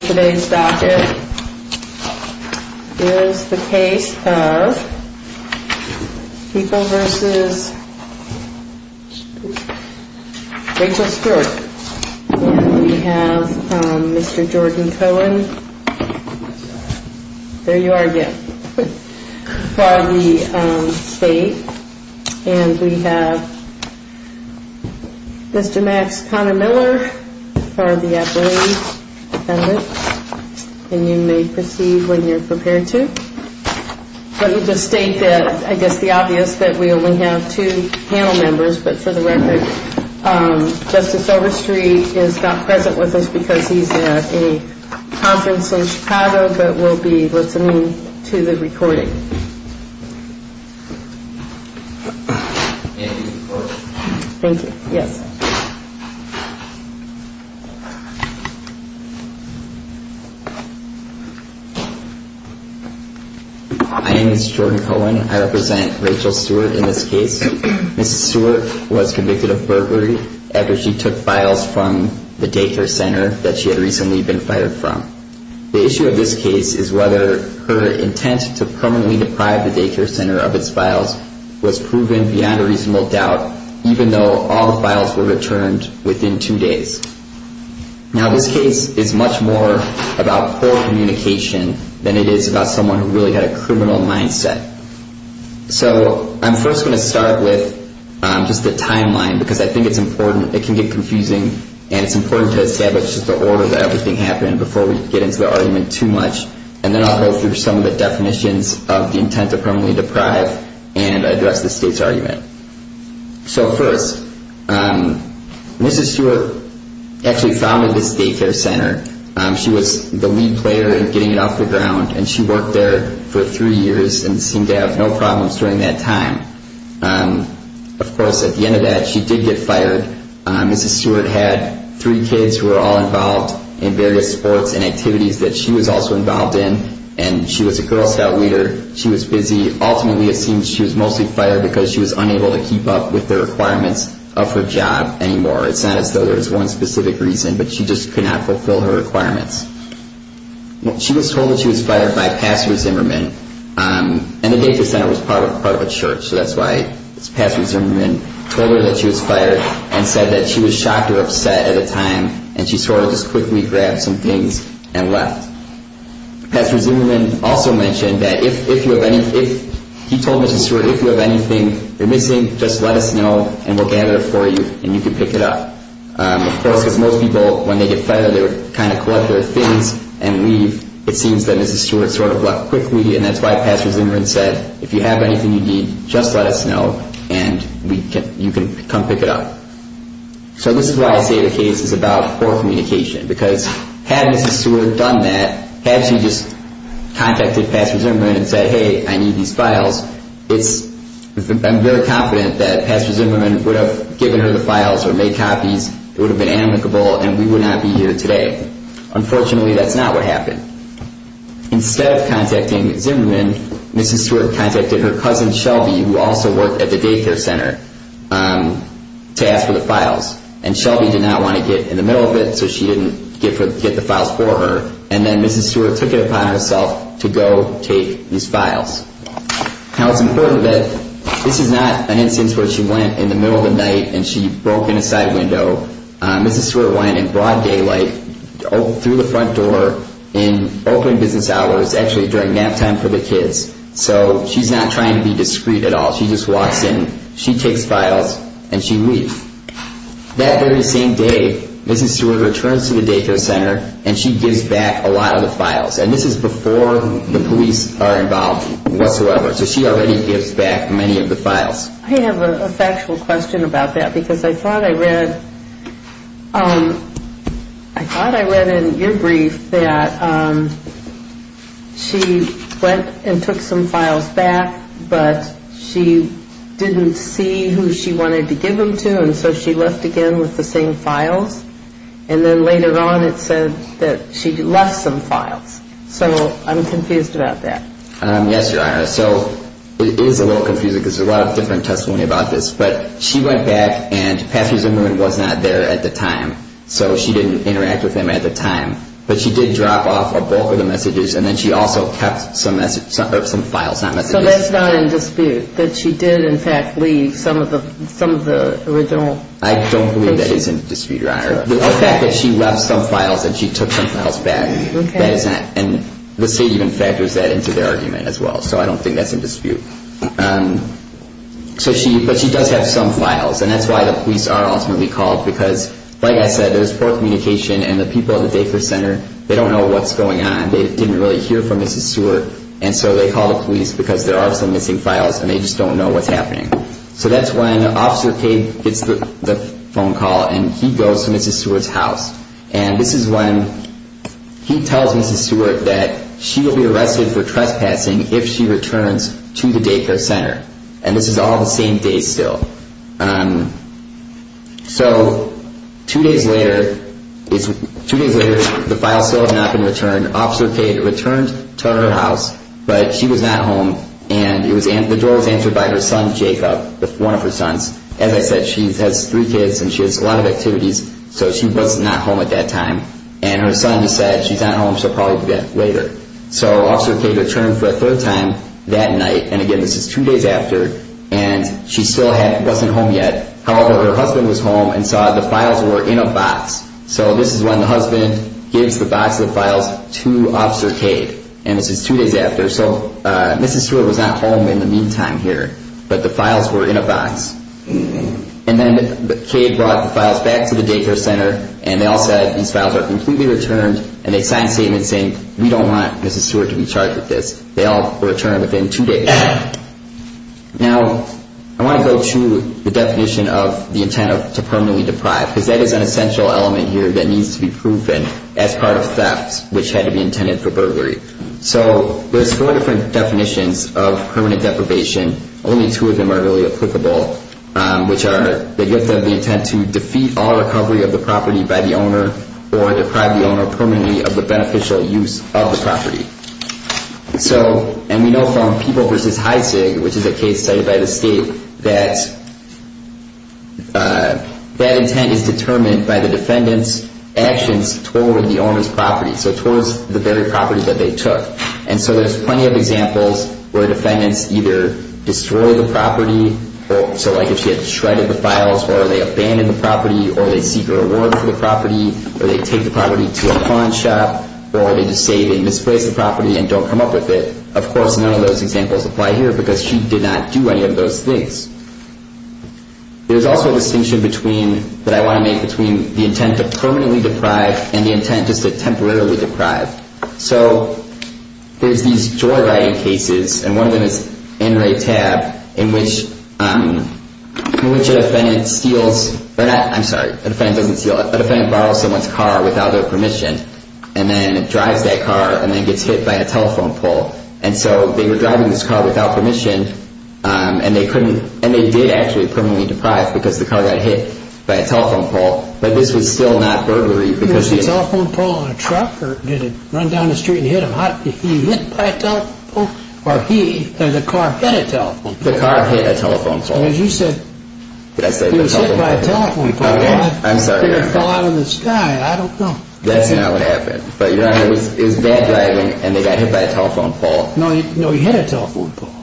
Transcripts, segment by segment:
Today's docket is the case of People v. Rachel Stewart We have Mr. Jordan Cohen, there you are again, for the state And we have Mr. Max Connor-Miller for the appellate And you may proceed when you're prepared to Let me just state that, I guess the obvious, that we only have two panel members But for the record, Justice Overstreet is not present with us because he's at a conference in Chicago But we'll be listening to the recording Thank you, yes My name is Jordan Cohen, I represent Rachel Stewart in this case Mrs. Stewart was convicted of burglary after she took files from the daycare center that she had recently been fired from The issue of this case is whether her intent to permanently deprive the daycare center of its files was proven beyond a reasonable doubt Even though all files were returned within two days Now this case is much more about poor communication than it is about someone who really had a criminal mindset So I'm first going to start with just the timeline because I think it's important, it can get confusing And it's important to establish the order that everything happened before we get into the argument too much And then I'll go through some of the definitions of the intent to permanently deprive and address the state's argument So first, Mrs. Stewart actually founded this daycare center She was the lead player in getting it off the ground And she worked there for three years and seemed to have no problems during that time Of course, at the end of that, she did get fired Mrs. Stewart had three kids who were all involved in various sports and activities that she was also involved in And she was a girl scout leader, she was busy Ultimately, it seems she was mostly fired because she was unable to keep up with the requirements of her job anymore It's not as though there was one specific reason, but she just could not fulfill her requirements She was told that she was fired by Pastor Zimmerman And the daycare center was part of a church, so that's why Pastor Zimmerman told her that she was fired And said that she was shocked or upset at the time, and she sort of just quickly grabbed some things and left Pastor Zimmerman also mentioned that if you have any... He told Mrs. Stewart, if you have anything you're missing, just let us know and we'll gather it for you and you can pick it up Of course, because most people, when they get fired, they would kind of collect their things and leave It seems that Mrs. Stewart sort of left quickly, and that's why Pastor Zimmerman said If you have anything you need, just let us know and you can come pick it up So this is why I say the case is about poor communication Because had Mrs. Stewart done that, had she just contacted Pastor Zimmerman and said, hey, I need these files I'm very confident that Pastor Zimmerman would have given her the files or made copies It would have been amicable, and we would not be here today Unfortunately, that's not what happened Instead of contacting Pastor Zimmerman, Mrs. Stewart contacted her cousin Shelby Who also worked at the daycare center to ask for the files And Shelby did not want to get in the middle of it, so she didn't get the files for her And then Mrs. Stewart took it upon herself to go take these files Now it's important that this is not an instance where she went in the middle of the night and she broke in a side window Mrs. Stewart went in broad daylight through the front door in opening business hours Actually during nap time for the kids So she's not trying to be discreet at all She just walks in, she takes files, and she leaves That very same day, Mrs. Stewart returns to the daycare center and she gives back a lot of the files And this is before the police are involved whatsoever So she already gives back many of the files I have a factual question about that Because I thought I read in your brief that she went and took some files back But she didn't see who she wanted to give them to And so she left again with the same files And then later on it said that she left some files So I'm confused about that Yes, Your Honor So it is a little confusing because there's a lot of different testimony about this But she went back and Patrick Zimmerman was not there at the time So she didn't interact with him at the time But she did drop off a bulk of the messages And then she also kept some files, not messages So that's not in dispute, that she did in fact leave some of the original I don't believe that is in dispute, Your Honor The fact that she left some files and she took some files back And the state even factors that into their argument as well So I don't think that's in dispute But she does have some files And that's why the police are ultimately called Because like I said, there's poor communication And the people at the Daycare Center, they don't know what's going on They didn't really hear from Mrs. Seward And so they call the police because there are some missing files And they just don't know what's happening So that's when Officer Cade gets the phone call And he goes to Mrs. Seward's house And this is when he tells Mrs. Seward that she will be arrested for trespassing If she returns to the Daycare Center And this is all the same day still So two days later, the files still have not been returned Officer Cade returns to her house But she was not home And the door was answered by her son Jacob, one of her sons So she was not home at that time And her son just said, she's not home, she'll probably be back later So Officer Cade returned for a third time that night And again, this is two days after And she still wasn't home yet However, her husband was home and saw the files were in a box So this is when the husband gives the box of files to Officer Cade And this is two days after So Mrs. Seward was not home in the meantime here But the files were in a box And then Cade brought the files back to the Daycare Center And they all said, these files are completely returned And they signed a statement saying, we don't want Mrs. Seward to be charged with this They all returned within two days Now, I want to go to the definition of the intent to permanently deprive Because that is an essential element here that needs to be proven As part of theft, which had to be intended for burglary So there's four different definitions of permanent deprivation Only two of them are really applicable Which are the gift of the intent to defeat all recovery of the property by the owner Or deprive the owner permanently of the beneficial use of the property So, and we know from People v. Heisig, which is a case cited by the state That that intent is determined by the defendant's actions toward the owner's property So towards the very property that they took And so there's plenty of examples where defendants either destroy the property So like if she had shredded the files or they abandoned the property Or they seek a reward for the property Or they take the property to a pawn shop Or they just say they misplaced the property and don't come up with it Of course, none of those examples apply here Because she did not do any of those things There's also a distinction that I want to make between the intent to permanently deprive And the intent just to temporarily deprive So, there's these joyriding cases And one of them is in Ray Tab In which a defendant steals Or not, I'm sorry A defendant doesn't steal A defendant borrows someone's car without their permission And then drives that car and then gets hit by a telephone pole And so they were driving this car without permission And they couldn't And they did actually permanently deprive Because the car got hit by a telephone pole But this was still not burglary Was the telephone pole on a truck? Or did it run down the street and hit him? He was hit by a telephone pole? Or he, the car, hit a telephone pole? The car hit a telephone pole Because you said Did I say the telephone pole? He was hit by a telephone pole I'm sorry, Your Honor It fell out of the sky I don't know That's not what happened But, Your Honor, it was bad driving And they got hit by a telephone pole No, he hit a telephone pole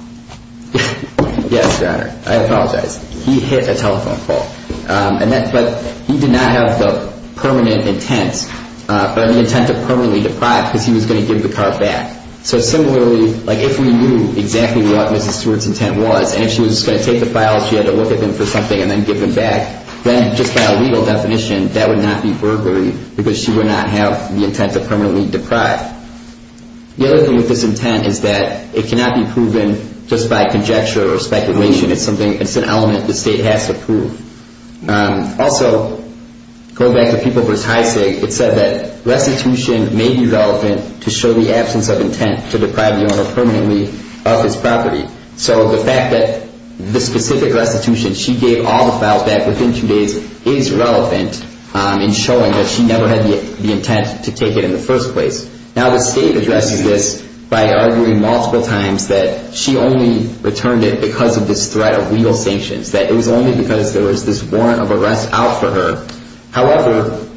Yes, Your Honor I apologize He hit a telephone pole But he did not have the permanent intent Or the intent to permanently deprive Because he was going to give the car back So similarly, if we knew exactly what Mrs. Stewart's intent was And if she was going to take the files She had to look at them for something And then give them back Then, just by a legal definition That would not be burglary Because she would not have the intent to permanently deprive The other thing with this intent is that It cannot be proven just by conjecture or speculation It's an element the State has to prove Also, going back to People v. Heisig It said that restitution may be relevant To show the absence of intent To deprive the owner permanently of his property So, the fact that the specific restitution She gave all the files back within two days Is relevant in showing that she never had the intent To take it in the first place Now, the State addresses this by arguing multiple times That she only returned it because of this threat of legal sanctions That it was only because there was this warrant of arrest out for her However,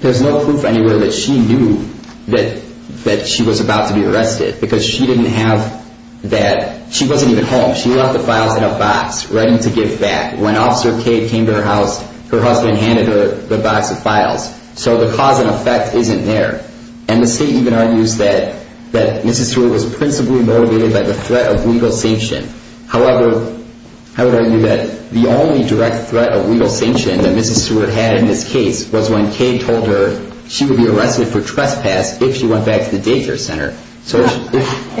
there's no proof anywhere that she knew That she was about to be arrested Because she didn't have that She wasn't even home She left the files in a box, ready to give back When Officer Cade came to her house Her husband handed her the box of files So, the cause and effect isn't there And the State even argues that Mrs. Seward was principally motivated by the threat of legal sanction However, I would argue that The only direct threat of legal sanction That Mrs. Seward had in this case Was when Cade told her she would be arrested for trespass If she went back to the daycare center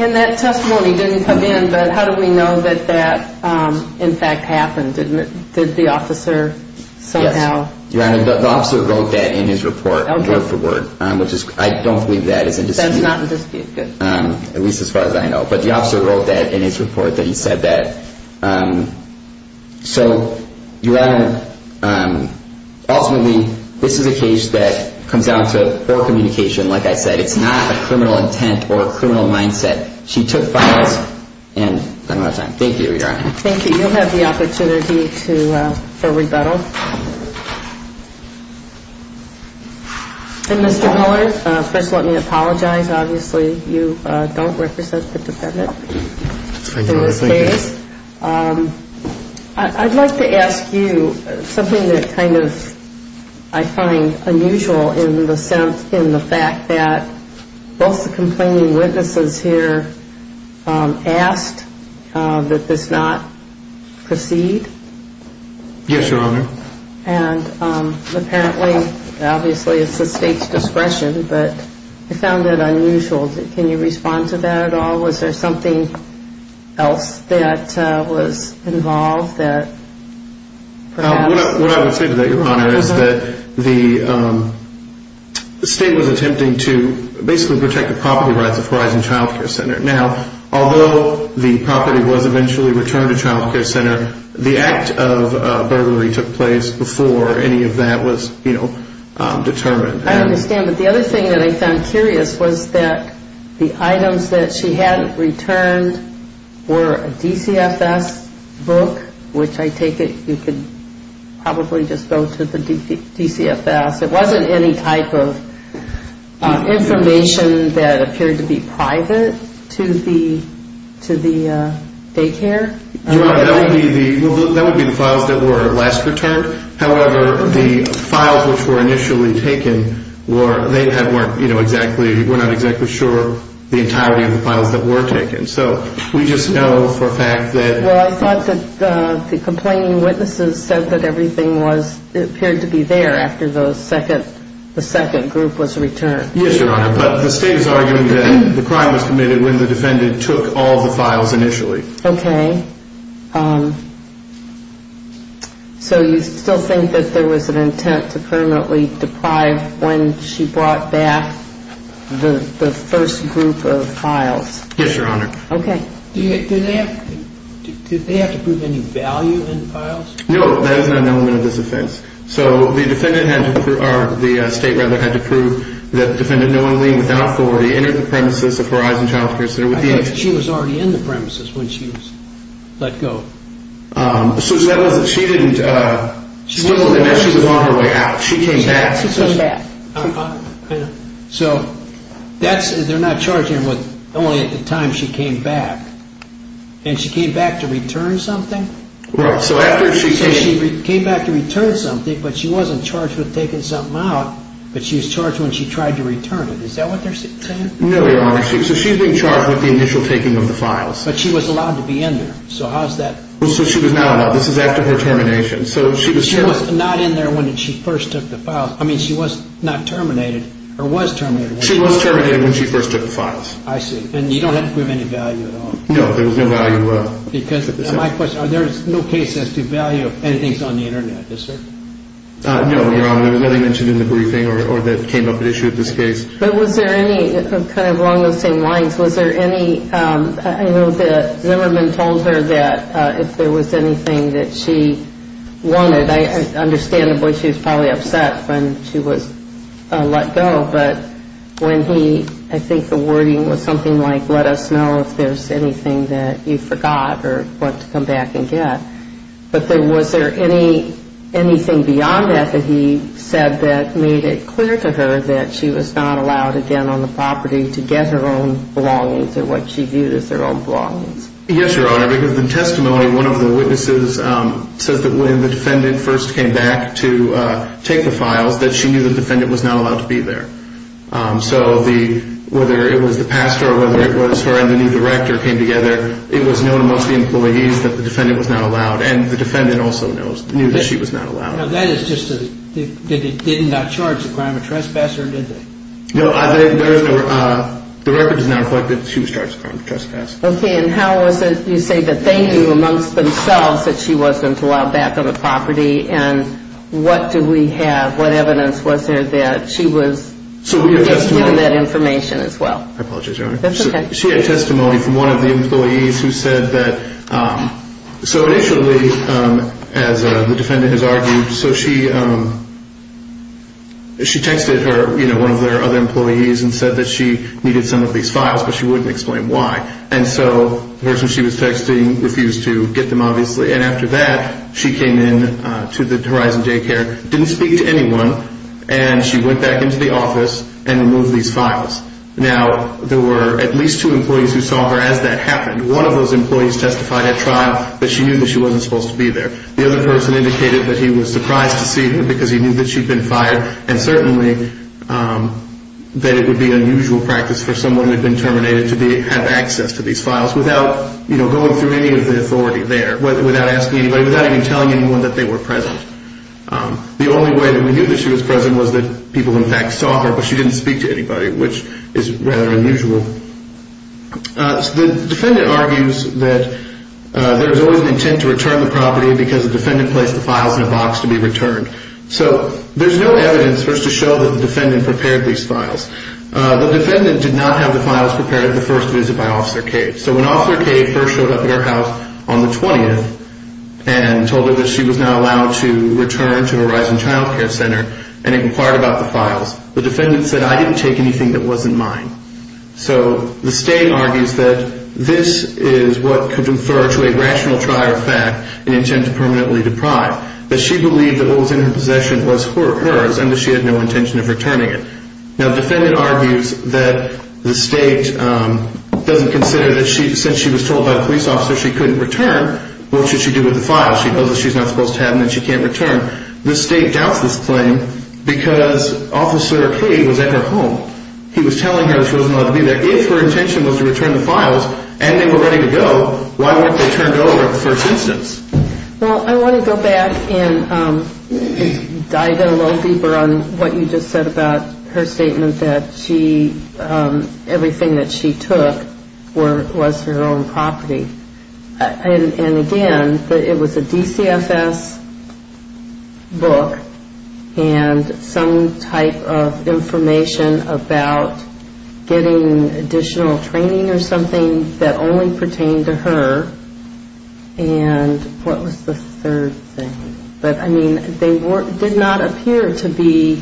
And that testimony didn't come in But how do we know that that, in fact, happened? Did the officer somehow... Yes, Your Honor, the officer wrote that in his report Word for word I don't believe that is in dispute That is not in dispute, good At least as far as I know But the officer wrote that in his report That he said that So, Your Honor Ultimately, this is a case that Comes down to poor communication Like I said, it's not a criminal intent Or a criminal mindset She took files and... I don't have time Thank you, Your Honor Thank you You'll have the opportunity for rebuttal And, Mr. Miller First, let me apologize, obviously You don't represent the defendant Thank you, Your Honor In this case I'd like to ask you Something that kind of I find unusual In the fact that Both the complaining witnesses here Asked that this not proceed Yes, Your Honor And, apparently Obviously, it's the State's discretion But I found that unusual Can you respond to that at all? Was there something else that was involved? That perhaps... What I would say to that, Your Honor Is that the State was attempting to Basically protect the property rights Of Horizon Child Care Center Now, although the property was eventually Returned to Child Care Center The act of burglary took place Before any of that was determined I understand But the other thing that I found curious Was that the items that she had returned Were a DCFS book Which I take it You could probably just go to the DCFS It wasn't any type of information That appeared to be private To the daycare Your Honor, that would be the That would be the files that were last returned However, the files which were initially taken They weren't exactly We're not exactly sure The entirety of the files that were taken So, we just know for a fact that Well, I thought that the complaining witnesses Said that everything was It appeared to be there after the second The second group was returned Yes, Your Honor But the State is arguing that The crime was committed When the defendant took all the files initially Okay So, you still think that there was an intent To permanently deprive When she brought back The first group of files Yes, Your Honor Okay Did they have to prove any value in the files? No, that is not an element of this offense So, the defendant had to prove Or the State rather had to prove That the defendant knowingly Without authority Entered the premises of Horizon Child Care Center I thought she was already in the premises When she was let go So, that was She didn't She wasn't there She was on her way out She came back She came back I know So, that's They're not charging her with Only at the time she came back And she came back to return something? Right, so after she came So, she came back to return something But she wasn't charged with taking something out But she was charged when she tried to return it Is that what they're saying? No, Your Honor So, she's being charged With the initial taking of the files But she was allowed to be in there So, how is that So, she was not allowed This is after her termination So, she was charged She was not in there When she first took the files I mean, she was not terminated Or was terminated She was terminated When she first took the files I see And you don't have to prove any value at all? No, there was no value Because, my question There is no case that has to do with value If anything is on the Internet, is there? No, Your Honor There was nothing mentioned in the briefing Or that came up at issue in this case But was there any Kind of along those same lines Was there any I know that Zimmerman told her That if there was anything that she wanted I understand the boy, she was probably upset When she was let go But when he I think the wording was something like Let us know if there's anything that you forgot Or want to come back and get But was there anything beyond that That he said that made it clear to her That she was not allowed again on the property To get her own belongings Or what she viewed as her own belongings Yes, Your Honor Because the testimony One of the witnesses Says that when the defendant first came back To take the files That she knew the defendant Was not allowed to be there So, whether it was the pastor Or whether it was her And the new director came together It was known to most of the employees That the defendant was not allowed And the defendant also knew That she was not allowed Now, that is just Did they not charge the crime of trespass Or did they? No, the record does not reflect That she was charged with crime of trespass Okay, and how was it You say that they knew amongst themselves That she wasn't allowed back on the property And what do we have What evidence was there That she was So, we had testimony Given that information as well I apologize, Your Honor That's okay She had testimony from one of the employees Who said that So, initially As the defendant has argued So, she She texted her You know, one of their other employees And said that she Needed some of these files But she wouldn't explain why And so, the person she was texting Refused to get them obviously And after that She came in To the Horizon Daycare Didn't speak to anyone And she went back into the office And removed these files Now, there were At least two employees Who saw her as that happened One of those employees Testified at trial That she knew That she wasn't supposed to be there The other person Indicated that he was surprised To see her Because he knew That she'd been fired And certainly That it would be Unusual practice For someone Who had been terminated To have access To these files Without, you know Going through any Of the authority there Without asking anybody Without even telling anyone That they were present The only way That we knew That she was present Was that people In fact saw her But she didn't speak To anybody Which is rather unusual The defendant argues That there's always An intent to return The property Because the defendant Placed the files In a box To be returned So there's no evidence For us to show That the defendant Prepared these files The defendant did not Have the files prepared At the first visit By Officer K So when Officer K First showed up At her house On the 20th And told her That she was now Allowed to return To Horizon Child Care Center And inquired About the files The defendant said I didn't take anything That wasn't mine So the state argues That this is What could infer To a rational trial That this is in fact An intent to Permanently deprive That she believed That what was in her possession Was hers And that she had No intention of returning it Now the defendant argues That the state Doesn't consider That since she was told By the police officer She couldn't return What should she do With the files She knows that she's not Supposed to have them And she can't return The state doubts this claim Because Officer K Was at her home He was telling her That she wasn't allowed To be there If her intention Was to return the files And they were ready to go Why weren't they turned over To the state For the first instance Well I want to go back And dive in a little deeper On what you just said About her statement That she Everything that she took Was her own property And again It was a DCFS book And that was A DCFS book And that was A DCFS book And that was A DCFS book And that was A DCFS book And that was A DCFS book And what was The third thing But I mean They did not Appear to be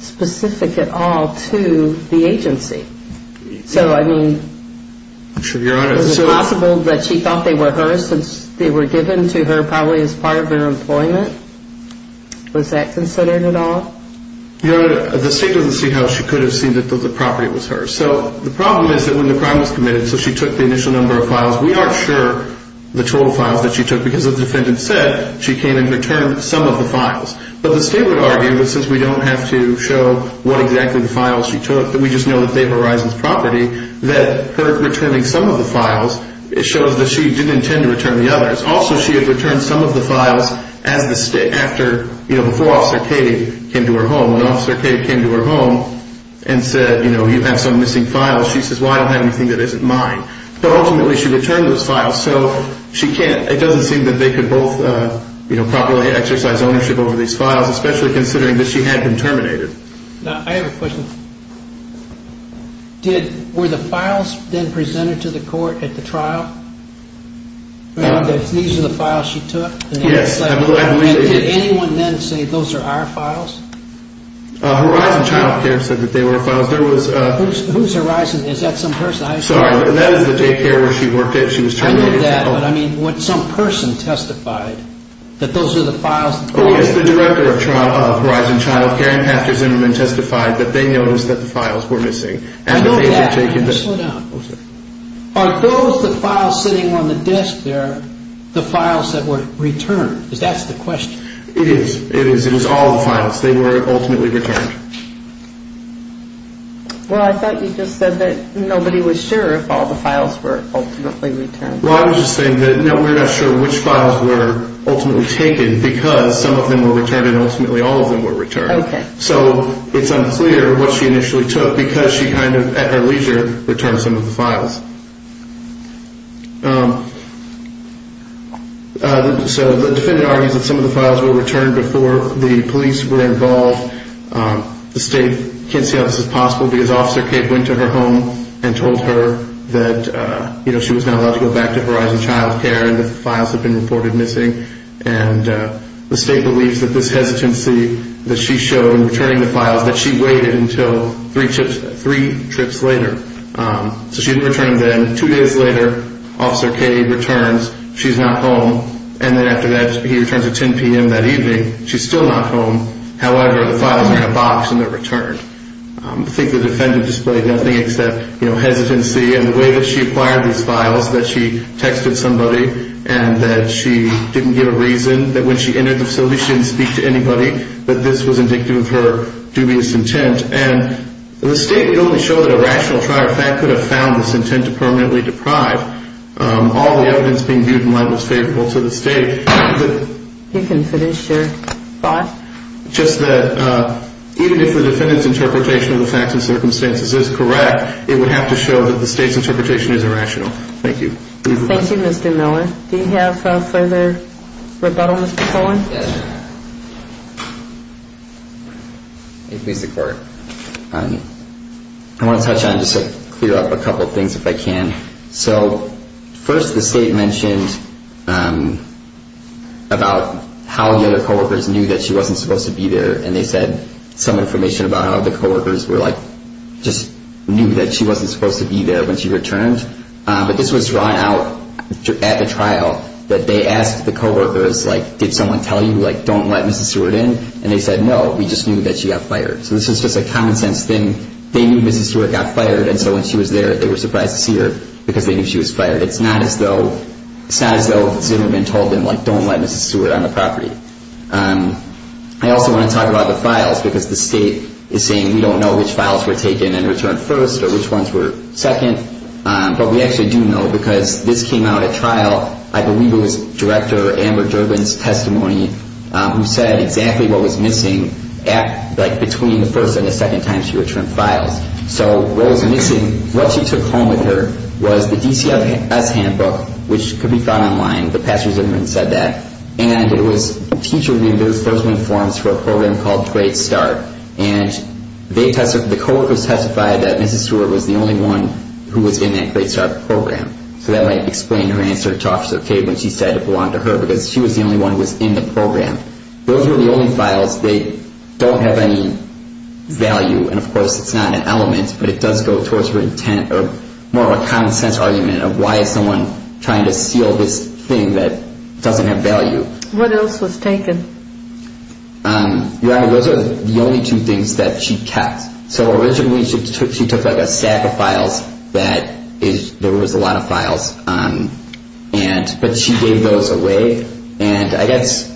Specific at all To the agency So I mean Was it possible That she thought They were hers Since they were Given to her Probably as part Of their employment Was that considered At all Your honor The state doesn't See how she could Have seen that The property was hers So the problem is That when the crime Was committed So she took The initial number Of files We aren't sure The total files That she took Because the defendant Said she came And returned Some of the files But the state Would argue That since we don't Have to show What exactly The files she took That we just know That they were Risen's property That her returning Some of the files Shows that she Didn't intend to Return the others Also she had Returned some of The files As the state After You know Before Officer Katie Came to her home And Officer Katie Returned Some of the files So she can't It doesn't seem That they could Both properly Exercise ownership Over these files Especially considering That she had Been terminated I have a question Did Were the files Then presented To the court At the trial These are the files She took Yes I believe Did anyone Then say Those are our files Horizon Child Care Said that they Were files Whose Horizon Is that some Person I'm sorry That is the daycare Where she worked She was terminated I know that But I mean When some person Testified That those are the Files Oh yes The director of Horizon Child Care Testified that they Noticed that the Files were missing I know that Slow down Are those the Files sitting on The desk there The files that Were returned Is that the question It is It is It was all the Files They were Ultimately returned Well I thought You just said That nobody Was sure If all the Files were Ultimately returned Well I was just Saying that No we are not Sure which Files were Ultimately taken Because some of And ultimately All of them Were returned Okay So it is Unclear what She initially Took because She kind of At her leisure Returned some Of the files So the Defendant argues That some of The files were Returned before The police were Involved The state Can't see how This is possible Because Officer Cape went to Her home and Told her that She was not Allowed to go Back to Horizon Child Care and The files had Been reported Missing and The state Believes that This hesitancy That she showed In returning the Files that she Waited until Three trips Three trips Later So she didn't Return them Two days later Officer Cape Returns She is not Home and After that He returns at 10 p.m. That evening She is still Not home However the Files are in a Box and They are returned I think the Defendant Displayed nothing Except hesitancy And the way That she acquired These files That she Texted somebody And that She didn't Give a reason That when She entered The solution She didn't Speak to Anybody That this was Indictive of Her dubious Intent and The state Could only Show that A rational Trier of fact Could have Found this Intent to Permanently Deprive All the Evidence being Viewed in light Was favorable To the State I Think You can Finish your Thought Just that Even if the Defendant's Interpretation of The facts and Circumstances is Correct it would Have to show That the State's Interpretation Is irrational Thank you Thank you Mr. Miller Do you have Further Rebuttal Mr. Cohen Yes I want to Touch on Just to Clear up a Couple of Things if I Can. So first The state Mentioned About how The other Coworkers knew That she Wasn't supposed To be there And they said Some information About how The coworkers Were like Just knew That she Wasn't supposed To be there When she Returned but This was Drawn out At the Trial that They asked The coworkers Like did Someone tell you Don't let Mrs. Seward in and They said No we just Knew that she Got fired so This is just A common sense Thing they Knew Mrs. Seward got Fired and so When she Was there They were Surprised to See her Because they Knew she Was fired. It's Not as Though it's Never been Told Don't let Mrs. Seward on the Property. I also Want to talk About the Files because The state Is saying We don't Know which Files were Taken and Returned first Or which Ones were Second but We actually Do know Because this Came out at Trial I Believe it Was director Amber Durbin's Testimony Who said Exactly what Was missing Between the First and the Second time she Returned files. So what Was missing What she Took home With her Was the DCFS handbook Which could Be found Online and It was Teacher Forms for A program Called great Start and The co-workers Testified that Mrs. Seward was The only one Who was in The program. Those were The only files That don't have Any value and Of course it's Not an element but It does go Towards her Intent or More of a Common sense Argument of Why is someone Trying to Steal this Thing that Doesn't have Value. What else Was taken? Those were The only two Things that She kept. So originally She took a Stack of Files that There was A lot of Files and But she gave Those away and I guess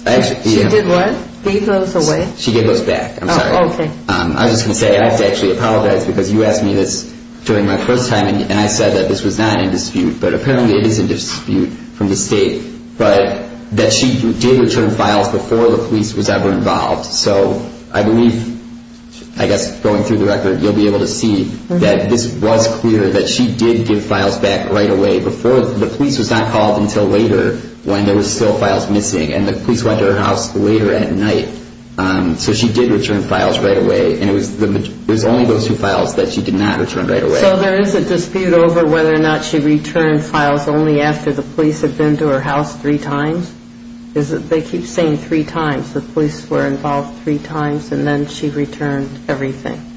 She did what? Gave those away? She gave those Back. I'm sorry. I was just Going to say I have to Actually apologize Because you Asked me this During my first Time and I Said that this Was not in Dispute but Apparently it Is in Dispute from The state but That she Did return Files before The police was Ever involved. So I believe I guess going Through the record You'll be able to See that this Was clear that She did give Files back right Away before the Police was not Called until later When there was Still files missing And the police Went to her House later at Night. So she did Return files right Away and it Was only those Two files that She did not Return right away. So there is a Dispute over Whether or not She returned Files only after The police had Been to her House three Times. They keep saying Three times. The police were Involved three Times and then She returned Everything.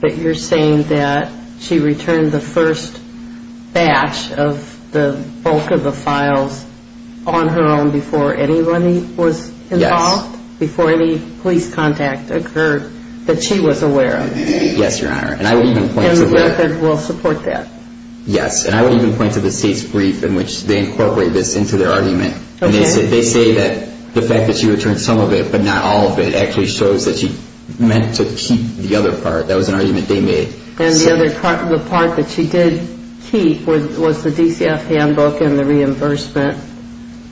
But you're Saying that she Returned the First batch of The bulk of the Files on her Own before Anybody was Involved? Yes. Before any Police contact Occurred that She was aware Of? Yes, your Honor. I would even Point to the State's brief in Which they Incorporate this Into their Argument and They say that The fact that She returned some Of it but not All of it actually Shows that she Meant to keep the Other part. That was an Argument they Made. And the other Part, the part That she did Keep was the DCF handbook And the Reimbursement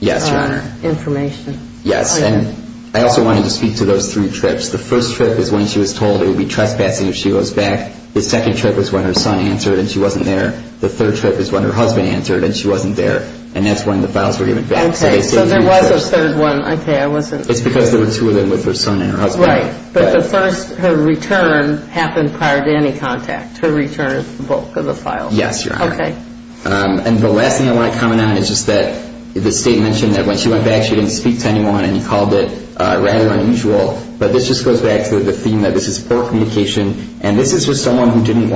Yes, your Honor. Information. Yes. And I also wanted To speak to those Three trips. The first trip is When she was told It would be Trespassing if she Goes back. The second trip Was when her son Answered and she Wasn't there. The third trip is When her husband Answered and she Wasn't there and That's when the Files were given Back. Okay. So there was a Third one. Okay. I wasn't It's because there Were two of them With her son and Her husband. Right. But the first Her return Happened prior to Any contact. Her return Is the bulk of The files. Yes, your Honor. Okay. And the last Thing I want to Comment on is Just that the State mentioned That when she Went back she Didn't speak to Anyone and Called it rather Unusual. But this just Goes back to the Theme that this Is poor Communication and This is just Someone who Just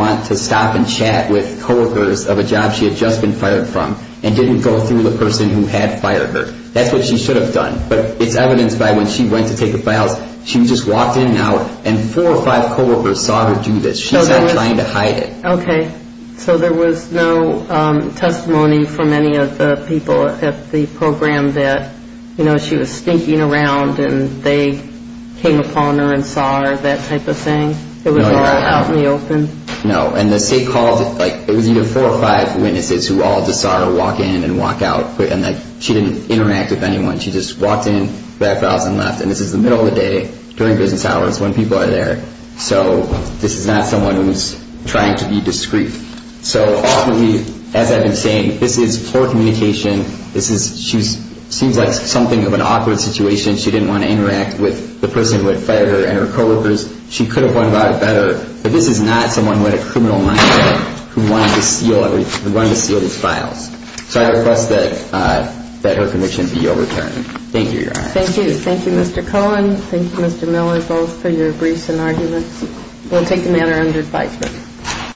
walked in And out and Four or five Co-workers saw her Do this. She's not Trying to hide It. Okay. So there was No testimony From any of the People at the Program that You know she Was sneaking Around and They came Upon her and Saw her, that Type of thing. It was all Out in the Open. No. And the State called It was either Four or five People. So this Is not Someone who Is trying to Be discreet. So ultimately As I've been Saying this is Poor communication. This is Seems like Something of An awkward Situation. She didn't Want to Interact with The person Who had Fired her and Her co-workers. She could Have run About it Better but This is not Someone with A criminal Background who Wanted to steal These files. So I request that Her conviction be Overturned. Thank you, Your Honor. Thank you. Thank you, Mr. Cohen. Thank you, Mr. Miller. Both for your Briefs and arguments. We'll take the Matter under Advisement.